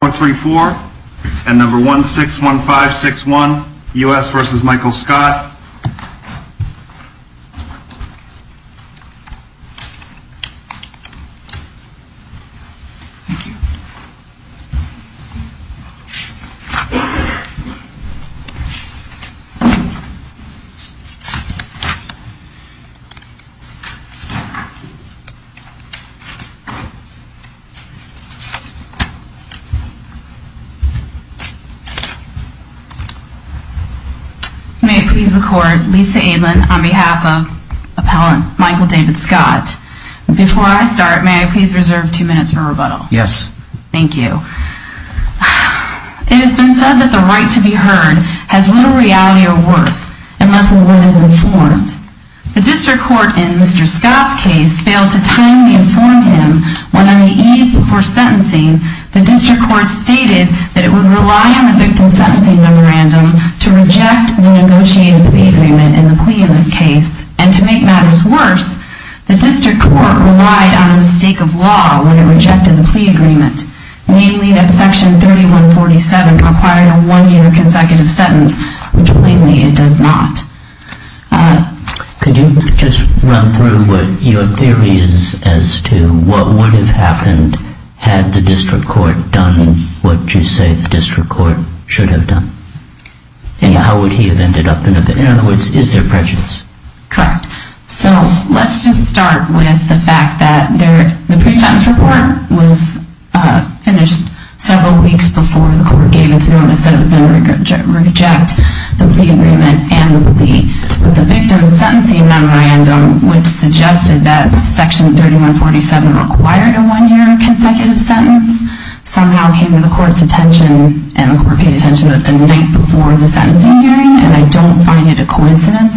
434 and number 161561 U.S. v. Michael Scott. It has been said that the right to be heard has little reality or worth unless the witness is informed. The District Court in Mr. Scott's case failed to timely inform him when on the court stated that it would rely on the victim sentencing memorandum to reject the negotiated plea agreement in the plea in this case. And to make matters worse, the District Court relied on a mistake of law when it rejected the plea agreement, namely that Section 3147 required a one-year consecutive sentence, which plainly it does not. Could you just run through what your theory is as to what would have happened had the victim sentencing memorandum been submitted to the District Court? Correct. So let's just start with the fact that the pre-sentence report was finished several weeks before the court gave its notice that it was going to reject the plea agreement and the plea. But the victim sentencing memorandum, which suggested that Section 3147 required a one-year consecutive sentence, somehow came to the court's attention and the court paid attention to it the night before the sentencing hearing. And I don't find it a coincidence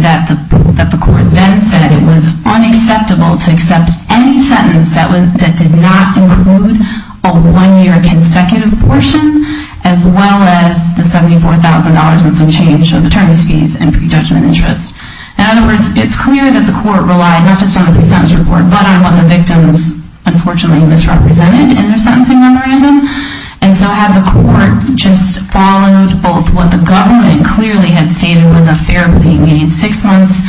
that the court then said it was unacceptable to accept any sentence that did not include a one-year consecutive portion, as well as the $74,000 and some change of attorneys' fees and pre-judgment interest. In other words, it's clear that the court relied not just on the pre-sentence report, but on what the victims, unfortunately, misrepresented in their sentencing memorandum. And so had the court just followed both what the government clearly had stated was a fair plea, meaning six months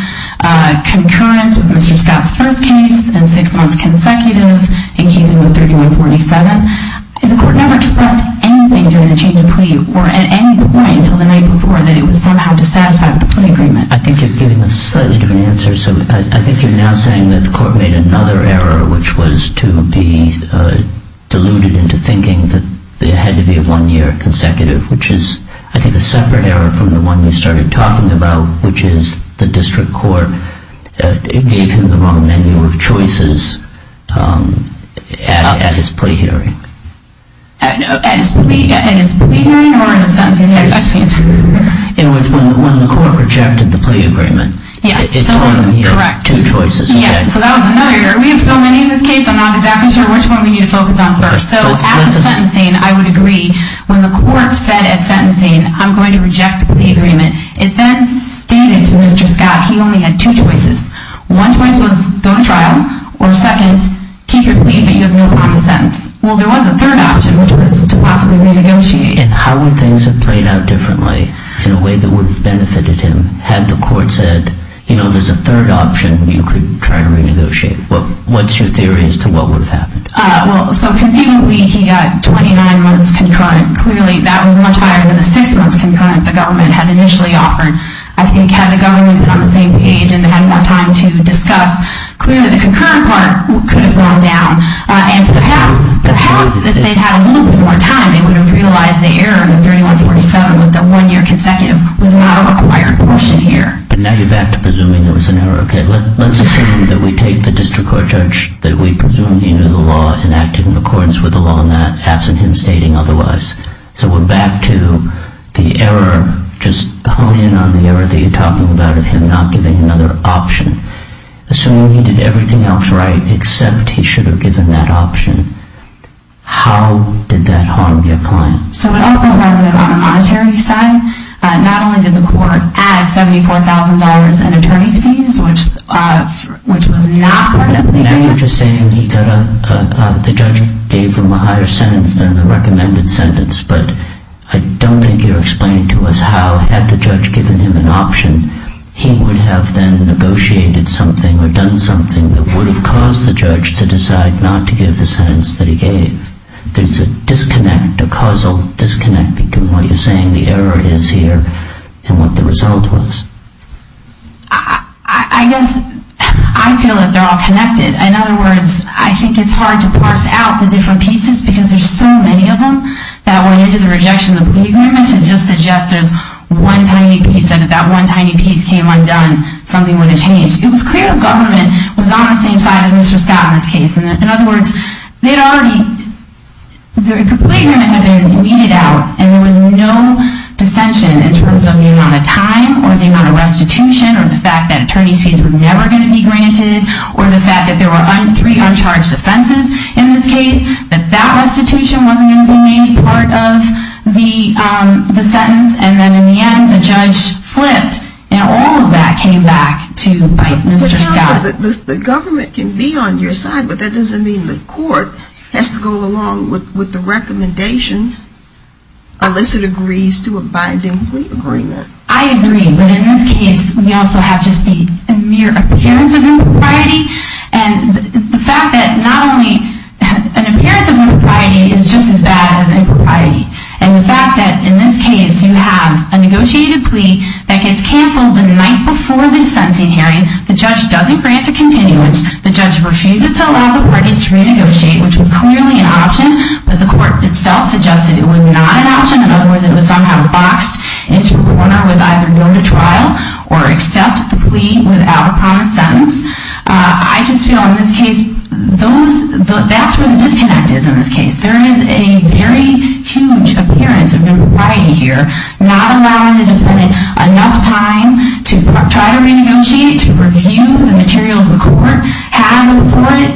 concurrent with Mr. Scott's first case and six months consecutive in keeping with 3147, if the court never expressed anything during the change of plea or at any point until the night before that it was somehow dissatisfied with the plea agreement? I think you're giving a slightly different answer. So I think you're now saying that the court made another error, which was to be deluded into thinking that there had to be a one-year consecutive, which is, I think, a separate error from the one you started talking about, which is the district court gave him the wrong menu of choices at his plea hearing. At his plea hearing or in the sentencing hearing? It was when the court rejected the plea agreement. Yes. It told him he had two choices. Yes. So that was another error. We have so many in this case, I'm not exactly sure which one we need to focus on first. So at the sentencing, I would agree, when the court said at sentencing, I'm going to reject the plea agreement, it then stated to Mr. Scott he only had two choices. One choice was go to trial, or second, keep your plea but you have no promise sentence. Well, there was a third option, which was to possibly renegotiate. And how would things have played out differently in a way that would have benefited him had the court said, you know, there's a third option, you could try to renegotiate. What's your theory as to what would have happened? Well, so conceivably, he got 29 months concurrent. Clearly, that was much higher than the six months concurrent the government had initially offered. I think had the government been on the same page and had more time to discuss, clearly the concurrent part could have gone down. And perhaps if they'd had a little bit more time, they would have realized the error in the 3147 with the one-year consecutive was not a required portion here. But now you're back to presuming there was an error. Okay, let's assume that we take the district court judge that we presumed he knew the law and acted in accordance with the law in that, absent him stating otherwise. So we're back to the error, just honing in on the error that you're talking about of him not giving another option. Assuming he did everything else right except he should have given that option. How did that harm your client? So it also harmed him on a monetary side. Not only did the court add $74,000 in attorney's fees, which was not part of the agreement. Now you're just saying he got a, the judge gave him a higher sentence than the recommended sentence, but I don't think you're explaining to us how, had the judge given him an option, he would have then negotiated something or done something that would have caused the judge to decide not to give the sentence that he gave. There's a disconnect, a causal disconnect between what you're saying the error is here and what the result was. I guess I feel that they're all connected. In other words, I think it's hard to parse out the different pieces because there's so many of them that when you do the rejection of the plea agreement, it just suggests there's one tiny piece that if that one tiny piece came undone, something would have changed. It was clear the government was on the same side as Mr. Scott in this case. In other words, they'd already, the plea agreement had been weeded out and there was no dissension in terms of the amount of time or the amount of restitution or the fact that attorney's fees were never going to be granted or the fact that there were three uncharged offenses in this case, that that restitution wasn't going to be made part of the sentence and then in the end, the judge flipped and all of that came back to Mr. Scott. The government can be on your side, but that doesn't mean the court has to go along with the recommendation unless it agrees to abide in plea agreement. I agree, but in this case, we also have just the mere appearance of impropriety and the fact that in this case, you have a negotiated plea that gets canceled the night before the sentencing hearing. The judge doesn't grant a continuance. The judge refuses to allow the parties to renegotiate, which was clearly an option, but the court itself suggested it was not an option. In other words, it was somehow boxed into a corner with either go to trial or accept the plea without a promised sentence. I just feel in this case, that's where the disconnect is in this case. There is a very huge appearance of impropriety here, not allowing the defendant enough time to try to renegotiate, to review the materials the court had before it.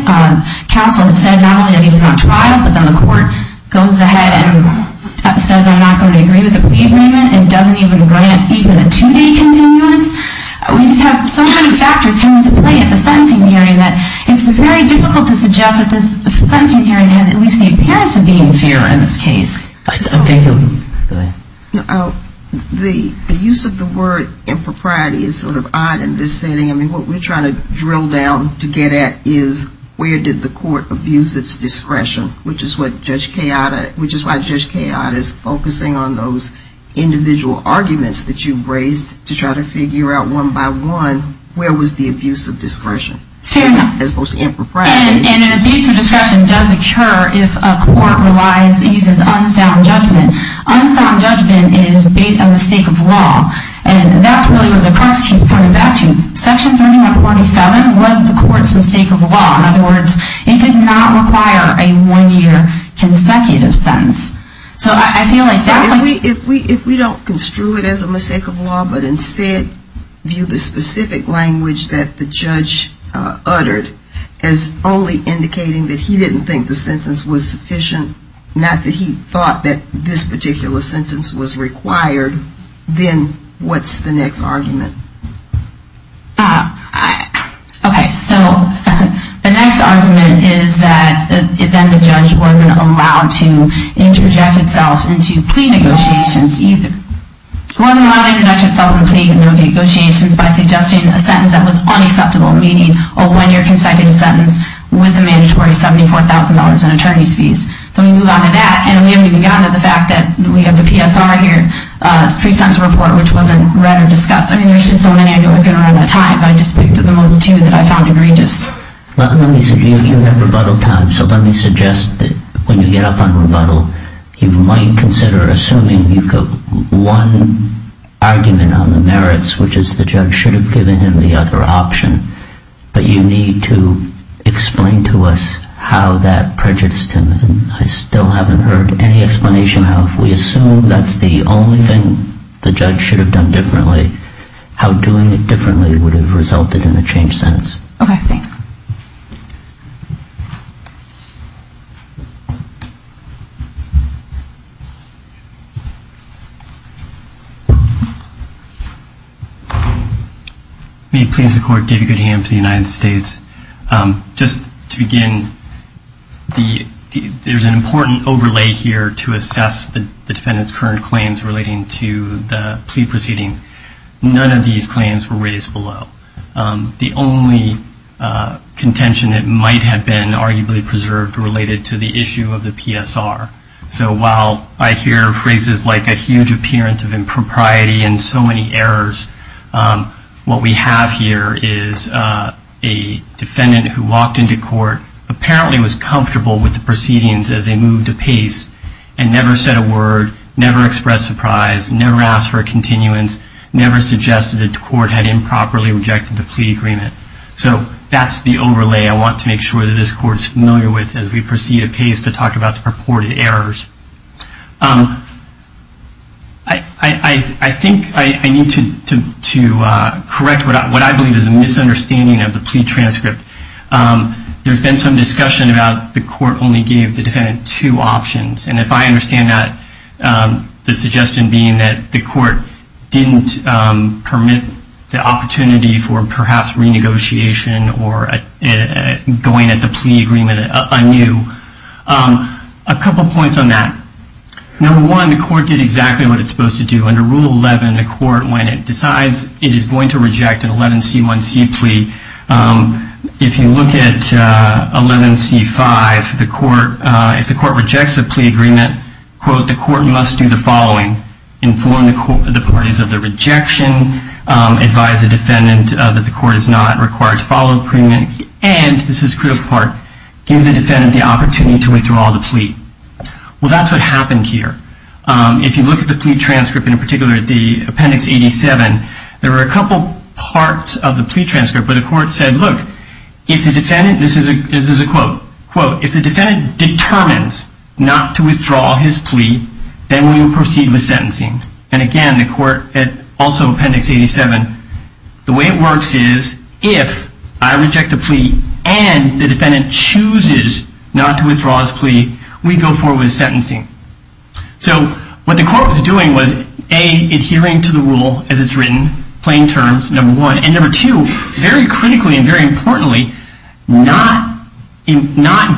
Counsel said not only that he was on trial, but then the court goes ahead and says I'm not going to agree with the plea agreement and doesn't even grant even a two-day continuance. We just have so many factors coming into play at the sentencing hearing that it's very difficult to suggest that this sentencing hearing had at least the appearance of being fair in this case. The use of the word impropriety is sort of odd in this setting. I mean, what we're trying to drill down to get at is where did the court abuse its discretion, which is what Judge Fletcher said. And an abuse of discretion does occur if a court uses unsound judgment. Unsound judgment is a mistake of law. And that's really where the question is coming back to. Section 3147 was the court's mistake of law. In other words, it did not require a one-year consecutive sentence. If we don't construe it as a mistake of law, but instead view the specific language that the judge uttered as only indicating that he didn't think the sentence was sufficient, not that he thought that this particular sentence was required, then what's the next argument? Okay. So the next argument is that then the judge wasn't allowed to interject itself into plea negotiations either. It wasn't allowed to interject itself in plea negotiations by suggesting a sentence that was unacceptable, meaning a one-year consecutive sentence with a mandatory $74,000 in attorney's fees. So we move on to that, and we haven't even gotten to the fact that we have the PSR here, which wasn't read or discussed. I mean, there's just so many I knew I was going to run out of time, but I just picked the most two that I found egregious. Let me suggest, you have rebuttal time, so let me suggest that when you get up on rebuttal, you might consider assuming you've got one argument on the merits, which is the judge should have given him the other option, but you need to explain to us how that prejudiced him, and I still haven't heard any explanation how if we assume that's the only thing the judge should have done differently, how doing it differently would have resulted in a changed sentence. Okay, thanks. May it please the Court, David Goodham for the United States. Just to begin, there's an important overlay here to assess the defendant's current claims relating to the plea proceeding. None of these claims were raised below. The only contention that might have been arguably preserved related to the issue of the PSR. So while I hear phrases like a huge appearance of impropriety and so many errors, what we have here is a defendant who walked into court, apparently was comfortable with the proceedings as they moved apace, and never said a word, never expressed surprise, never asked for a continuance, never suggested that the court had improperly rejected the plea agreement. So that's the overlay I want to make sure that this Court's familiar with as we proceed apace to talk about the purported errors. I think I need to correct what I believe is a misunderstanding of the plea transcript. There's been some discussion about the court only gave the defendant two options. And if I understand that, the suggestion being that the court didn't permit the opportunity for perhaps renegotiation or going at the plea agreement anew. A couple points on that. Number one, the court did exactly what it's supposed to do. Under Rule 11, the court, when it decides it is going to reject an 11C1C plea, if you look at 11C5, if the court rejects a plea agreement, quote, the court must do the following, inform the parties of the rejection, advise the defendant that the court is not required to follow premed, and this is a critical part, give the defendant the opportunity to withdraw the plea. Well, that's what happened here. If you look at the plea transcript, in particular the Appendix 87, there were a couple parts of the plea transcript where the court said, look, if the defendant, this is a quote, quote, if the defendant determines not to withdraw his plea, then we will proceed with sentencing. And again, the court, also Appendix 87, the way it works is if I reject a plea and the defendant chooses not to withdraw his plea, we go forward with sentencing. So what the court was doing was, A, adhering to the rule as it's written, plain terms, number one, and number two, very critically and very importantly, not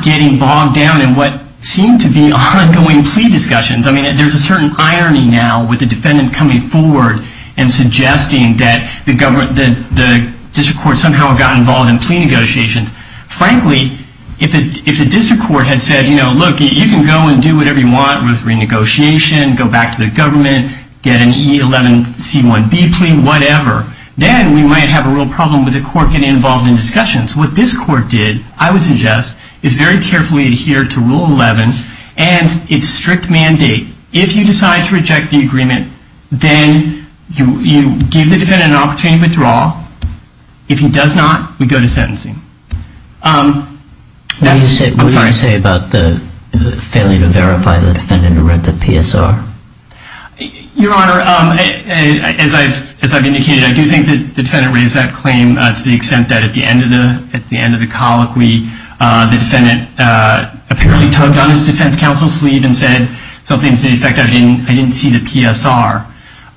getting bogged down in what seemed to be ongoing plea discussions. I mean, there's a certain irony now with the defendant coming forward and suggesting that the district court somehow got involved in plea negotiations. Frankly, if the district court had said, you know, look, you can go and do whatever you want with renegotiation, go back to the government, get an E11C1B plea, whatever, then we might have a real problem with the court getting involved in discussions. What this court did, I would suggest, is very carefully adhere to Rule 11 and its strict mandate. If you decide to reject the agreement, then you give the defendant an opportunity to withdraw. If he does not, we go to sentencing. I'm sorry. What did you say about the failure to verify the defendant who read the PSR? Your Honor, as I've indicated, I do think that the defendant raised that claim to the extent that at the end of the colloquy, the defendant apparently tugged on his defense counsel's ear and said something to the effect that I didn't see the PSR.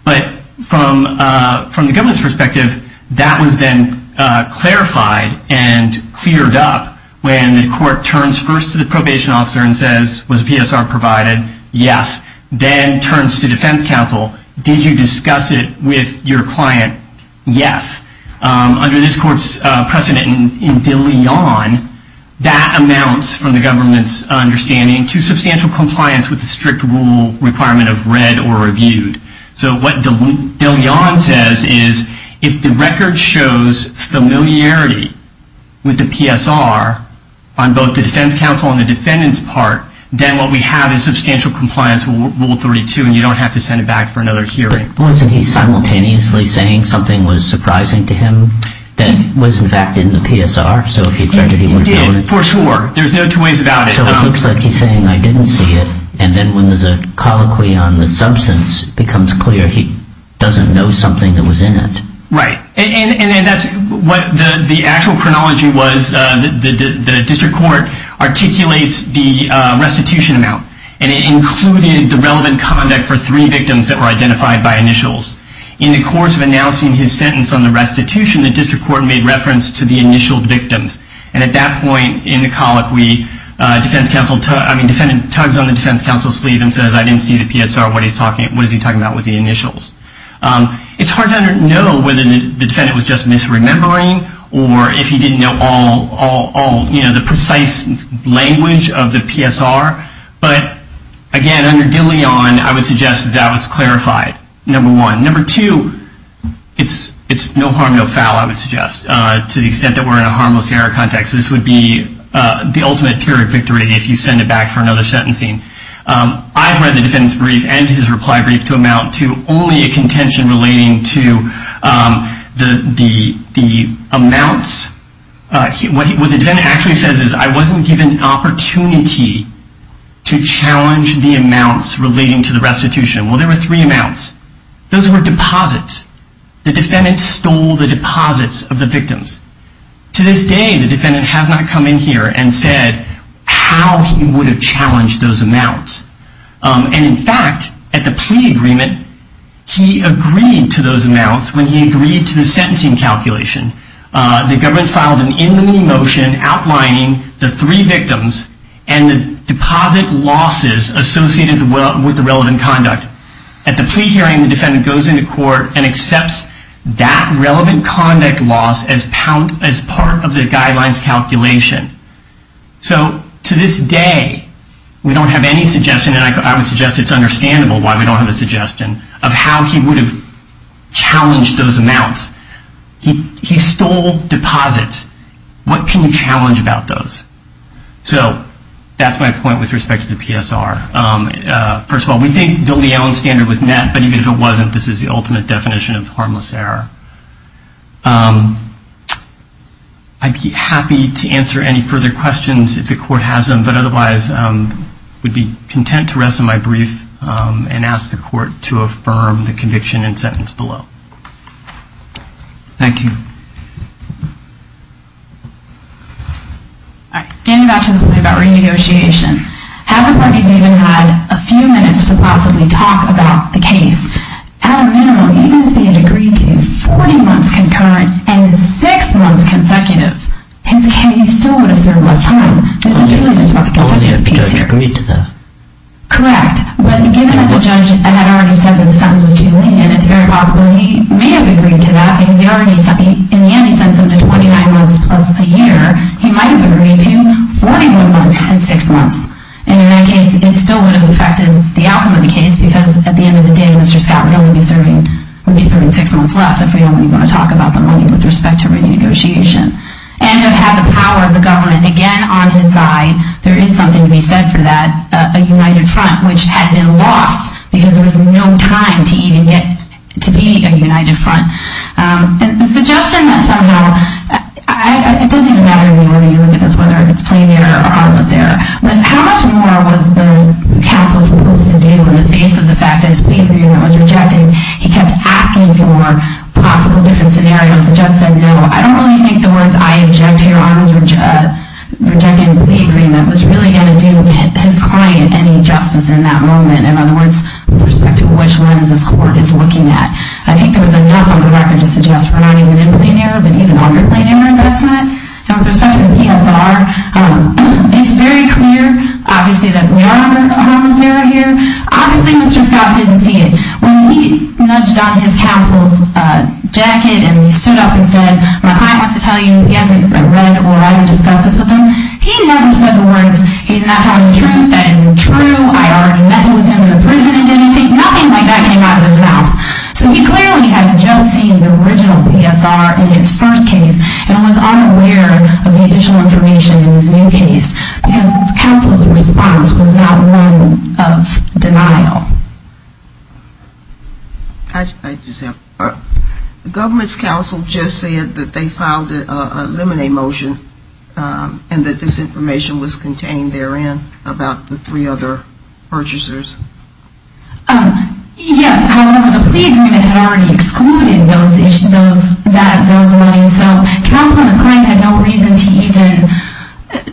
But from the government's perspective, that was then clarified and cleared up when the court turns first to the probation officer and says, was the PSR provided? Yes. Then turns to defense counsel. Did you discuss it with your client? Yes. Under this court's precedent in De Leon, that amounts, from the government's understanding, to substantial compliance with the strict rule requirement of read or reviewed. So what De Leon says is if the record shows familiarity with the PSR on both the defense counsel and the defendant's part, then what we have is substantial compliance with Rule 32 and you don't have to send it back for another hearing. Wasn't he simultaneously saying something was surprising to him that was in fact in the PSR? He did, for sure. There's no two ways about it. So it looks like he's saying, I didn't see it. And then when there's a colloquy on the substance, it becomes clear he doesn't know something that was in it. Right. And that's what the actual chronology was. The district court articulates the restitution amount. And it included the relevant conduct for three victims that were identified by initials. In the course of announcing his sentence on the restitution, the district court made reference to the initial victims. And at that point in the colloquy, the defendant tugs on the defense counsel's sleeve and says, I didn't see the PSR. What is he talking about with the initials? It's hard to know whether the defendant was just misremembering or if he didn't know all the precise language of the PSR. But again, under De Leon, I would suggest that was clarified, number one. Number two, it's no harm, no foul, I would suggest, to the extent that we're in a harmless error context, this would be the ultimate period victory if you send it back for another sentencing. I've read the defendant's brief and his reply brief to amount to only a contention relating to the amounts. What the defendant actually says is, I wasn't given an opportunity to challenge the amounts relating to the restitution. Well, there were three amounts. Those were deposits. The defendant stole the deposits of the victims. To this day, the defendant has not come in here and said how he would have challenged those amounts. And in fact, at the plea agreement, he agreed to those amounts when he agreed to the sentencing calculation. The government filed an in the motion outlining the three victims and the deposit losses associated with the relevant conduct. At the plea hearing, the defendant goes into court and accepts that relevant conduct loss as part of the guidelines calculation. So to this day, we don't have any suggestion, and I would suggest it's understandable why we don't have a suggestion, of how he would have challenged those amounts. He stole deposits. What can you challenge about those? So that's my point with respect to the PSR. First of all, we think DeLeon standard was met, but even if it wasn't, this is the ultimate definition of harmless error. I'd be happy to answer any further questions if the court has them, but otherwise would be content to rest on my brief and ask the court to affirm the conviction and sentence below. Thank you. Getting back to the point about renegotiation. Having where he's even had a few minutes to possibly talk about the case, at a minimum, even if he had agreed to 40 months concurrent and 6 months consecutive, he still would have served less time. Only if the judge agreed to that. Correct. But given that the judge had already said that the sentence was too lenient, it's very possible he may have agreed to that, because in the end he sent him to 29 months plus a And in that case, it still would have affected the outcome of the case, because at the end of the day, Mr. Scott would only be serving 6 months less if we don't even want to talk about the money with respect to renegotiation. And to have the power of the government again on his side, there is something to be said for that, a united front, which had been lost because there was no time to even get to be a united front. And the suggestion that somehow, it doesn't even matter to me whether you look at this, whether it's plain error or harmless error. How much more was the counsel supposed to do in the face of the fact that his plea agreement was rejected? He kept asking for possible different scenarios. The judge said, no, I don't really think the words I object here on his rejecting plea agreement was really going to do his client any justice in that moment. In other words, with respect to which lens this court is looking at. I think there was enough on the record to suggest for not even in plain error, but even under plain error investment. And with respect to the PSR, it's very clear, obviously, that we are under harmless error here. Obviously, Mr. Scott didn't see it. When he nudged on his counsel's jacket and he stood up and said, my client wants to tell you he hasn't read or discussed this with him, he never said the words, he's not telling the truth, that isn't true, I already met with him in the prison and didn't think, nothing like that came out of his mouth. So he clearly had just seen the original PSR in his first case and was unaware of the additional information in his new case. Because the counsel's response was not one of denial. I just have, the government's counsel just said that they filed a limine motion and that this information was contained therein about the three other purchasers. Yes, however, the plea agreement had already excluded those monies. So counsel and his client had no reason to even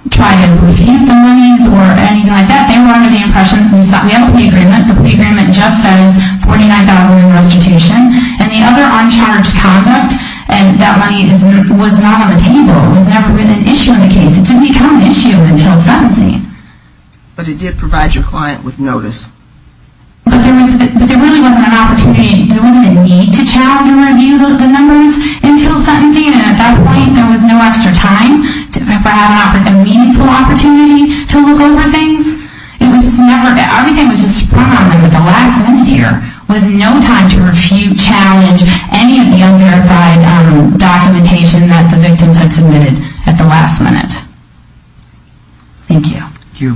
try to refute the monies or anything like that. They were under the impression, we have a plea agreement, the plea agreement just says $49,000 in restitution. And the other uncharged conduct, that money was not on the table, it was never an issue in the case. It didn't become an issue until sentencing. But it did provide your client with notice. But there really wasn't an opportunity, there wasn't a need to challenge and review the numbers until sentencing and at that point there was no extra time to have a meaningful opportunity to look over things. It was just never, everything was just brought up at the last minute here with no time to refute, challenge any of the unverified documentation that the victims had submitted at the last minute. Thank you. Thank you.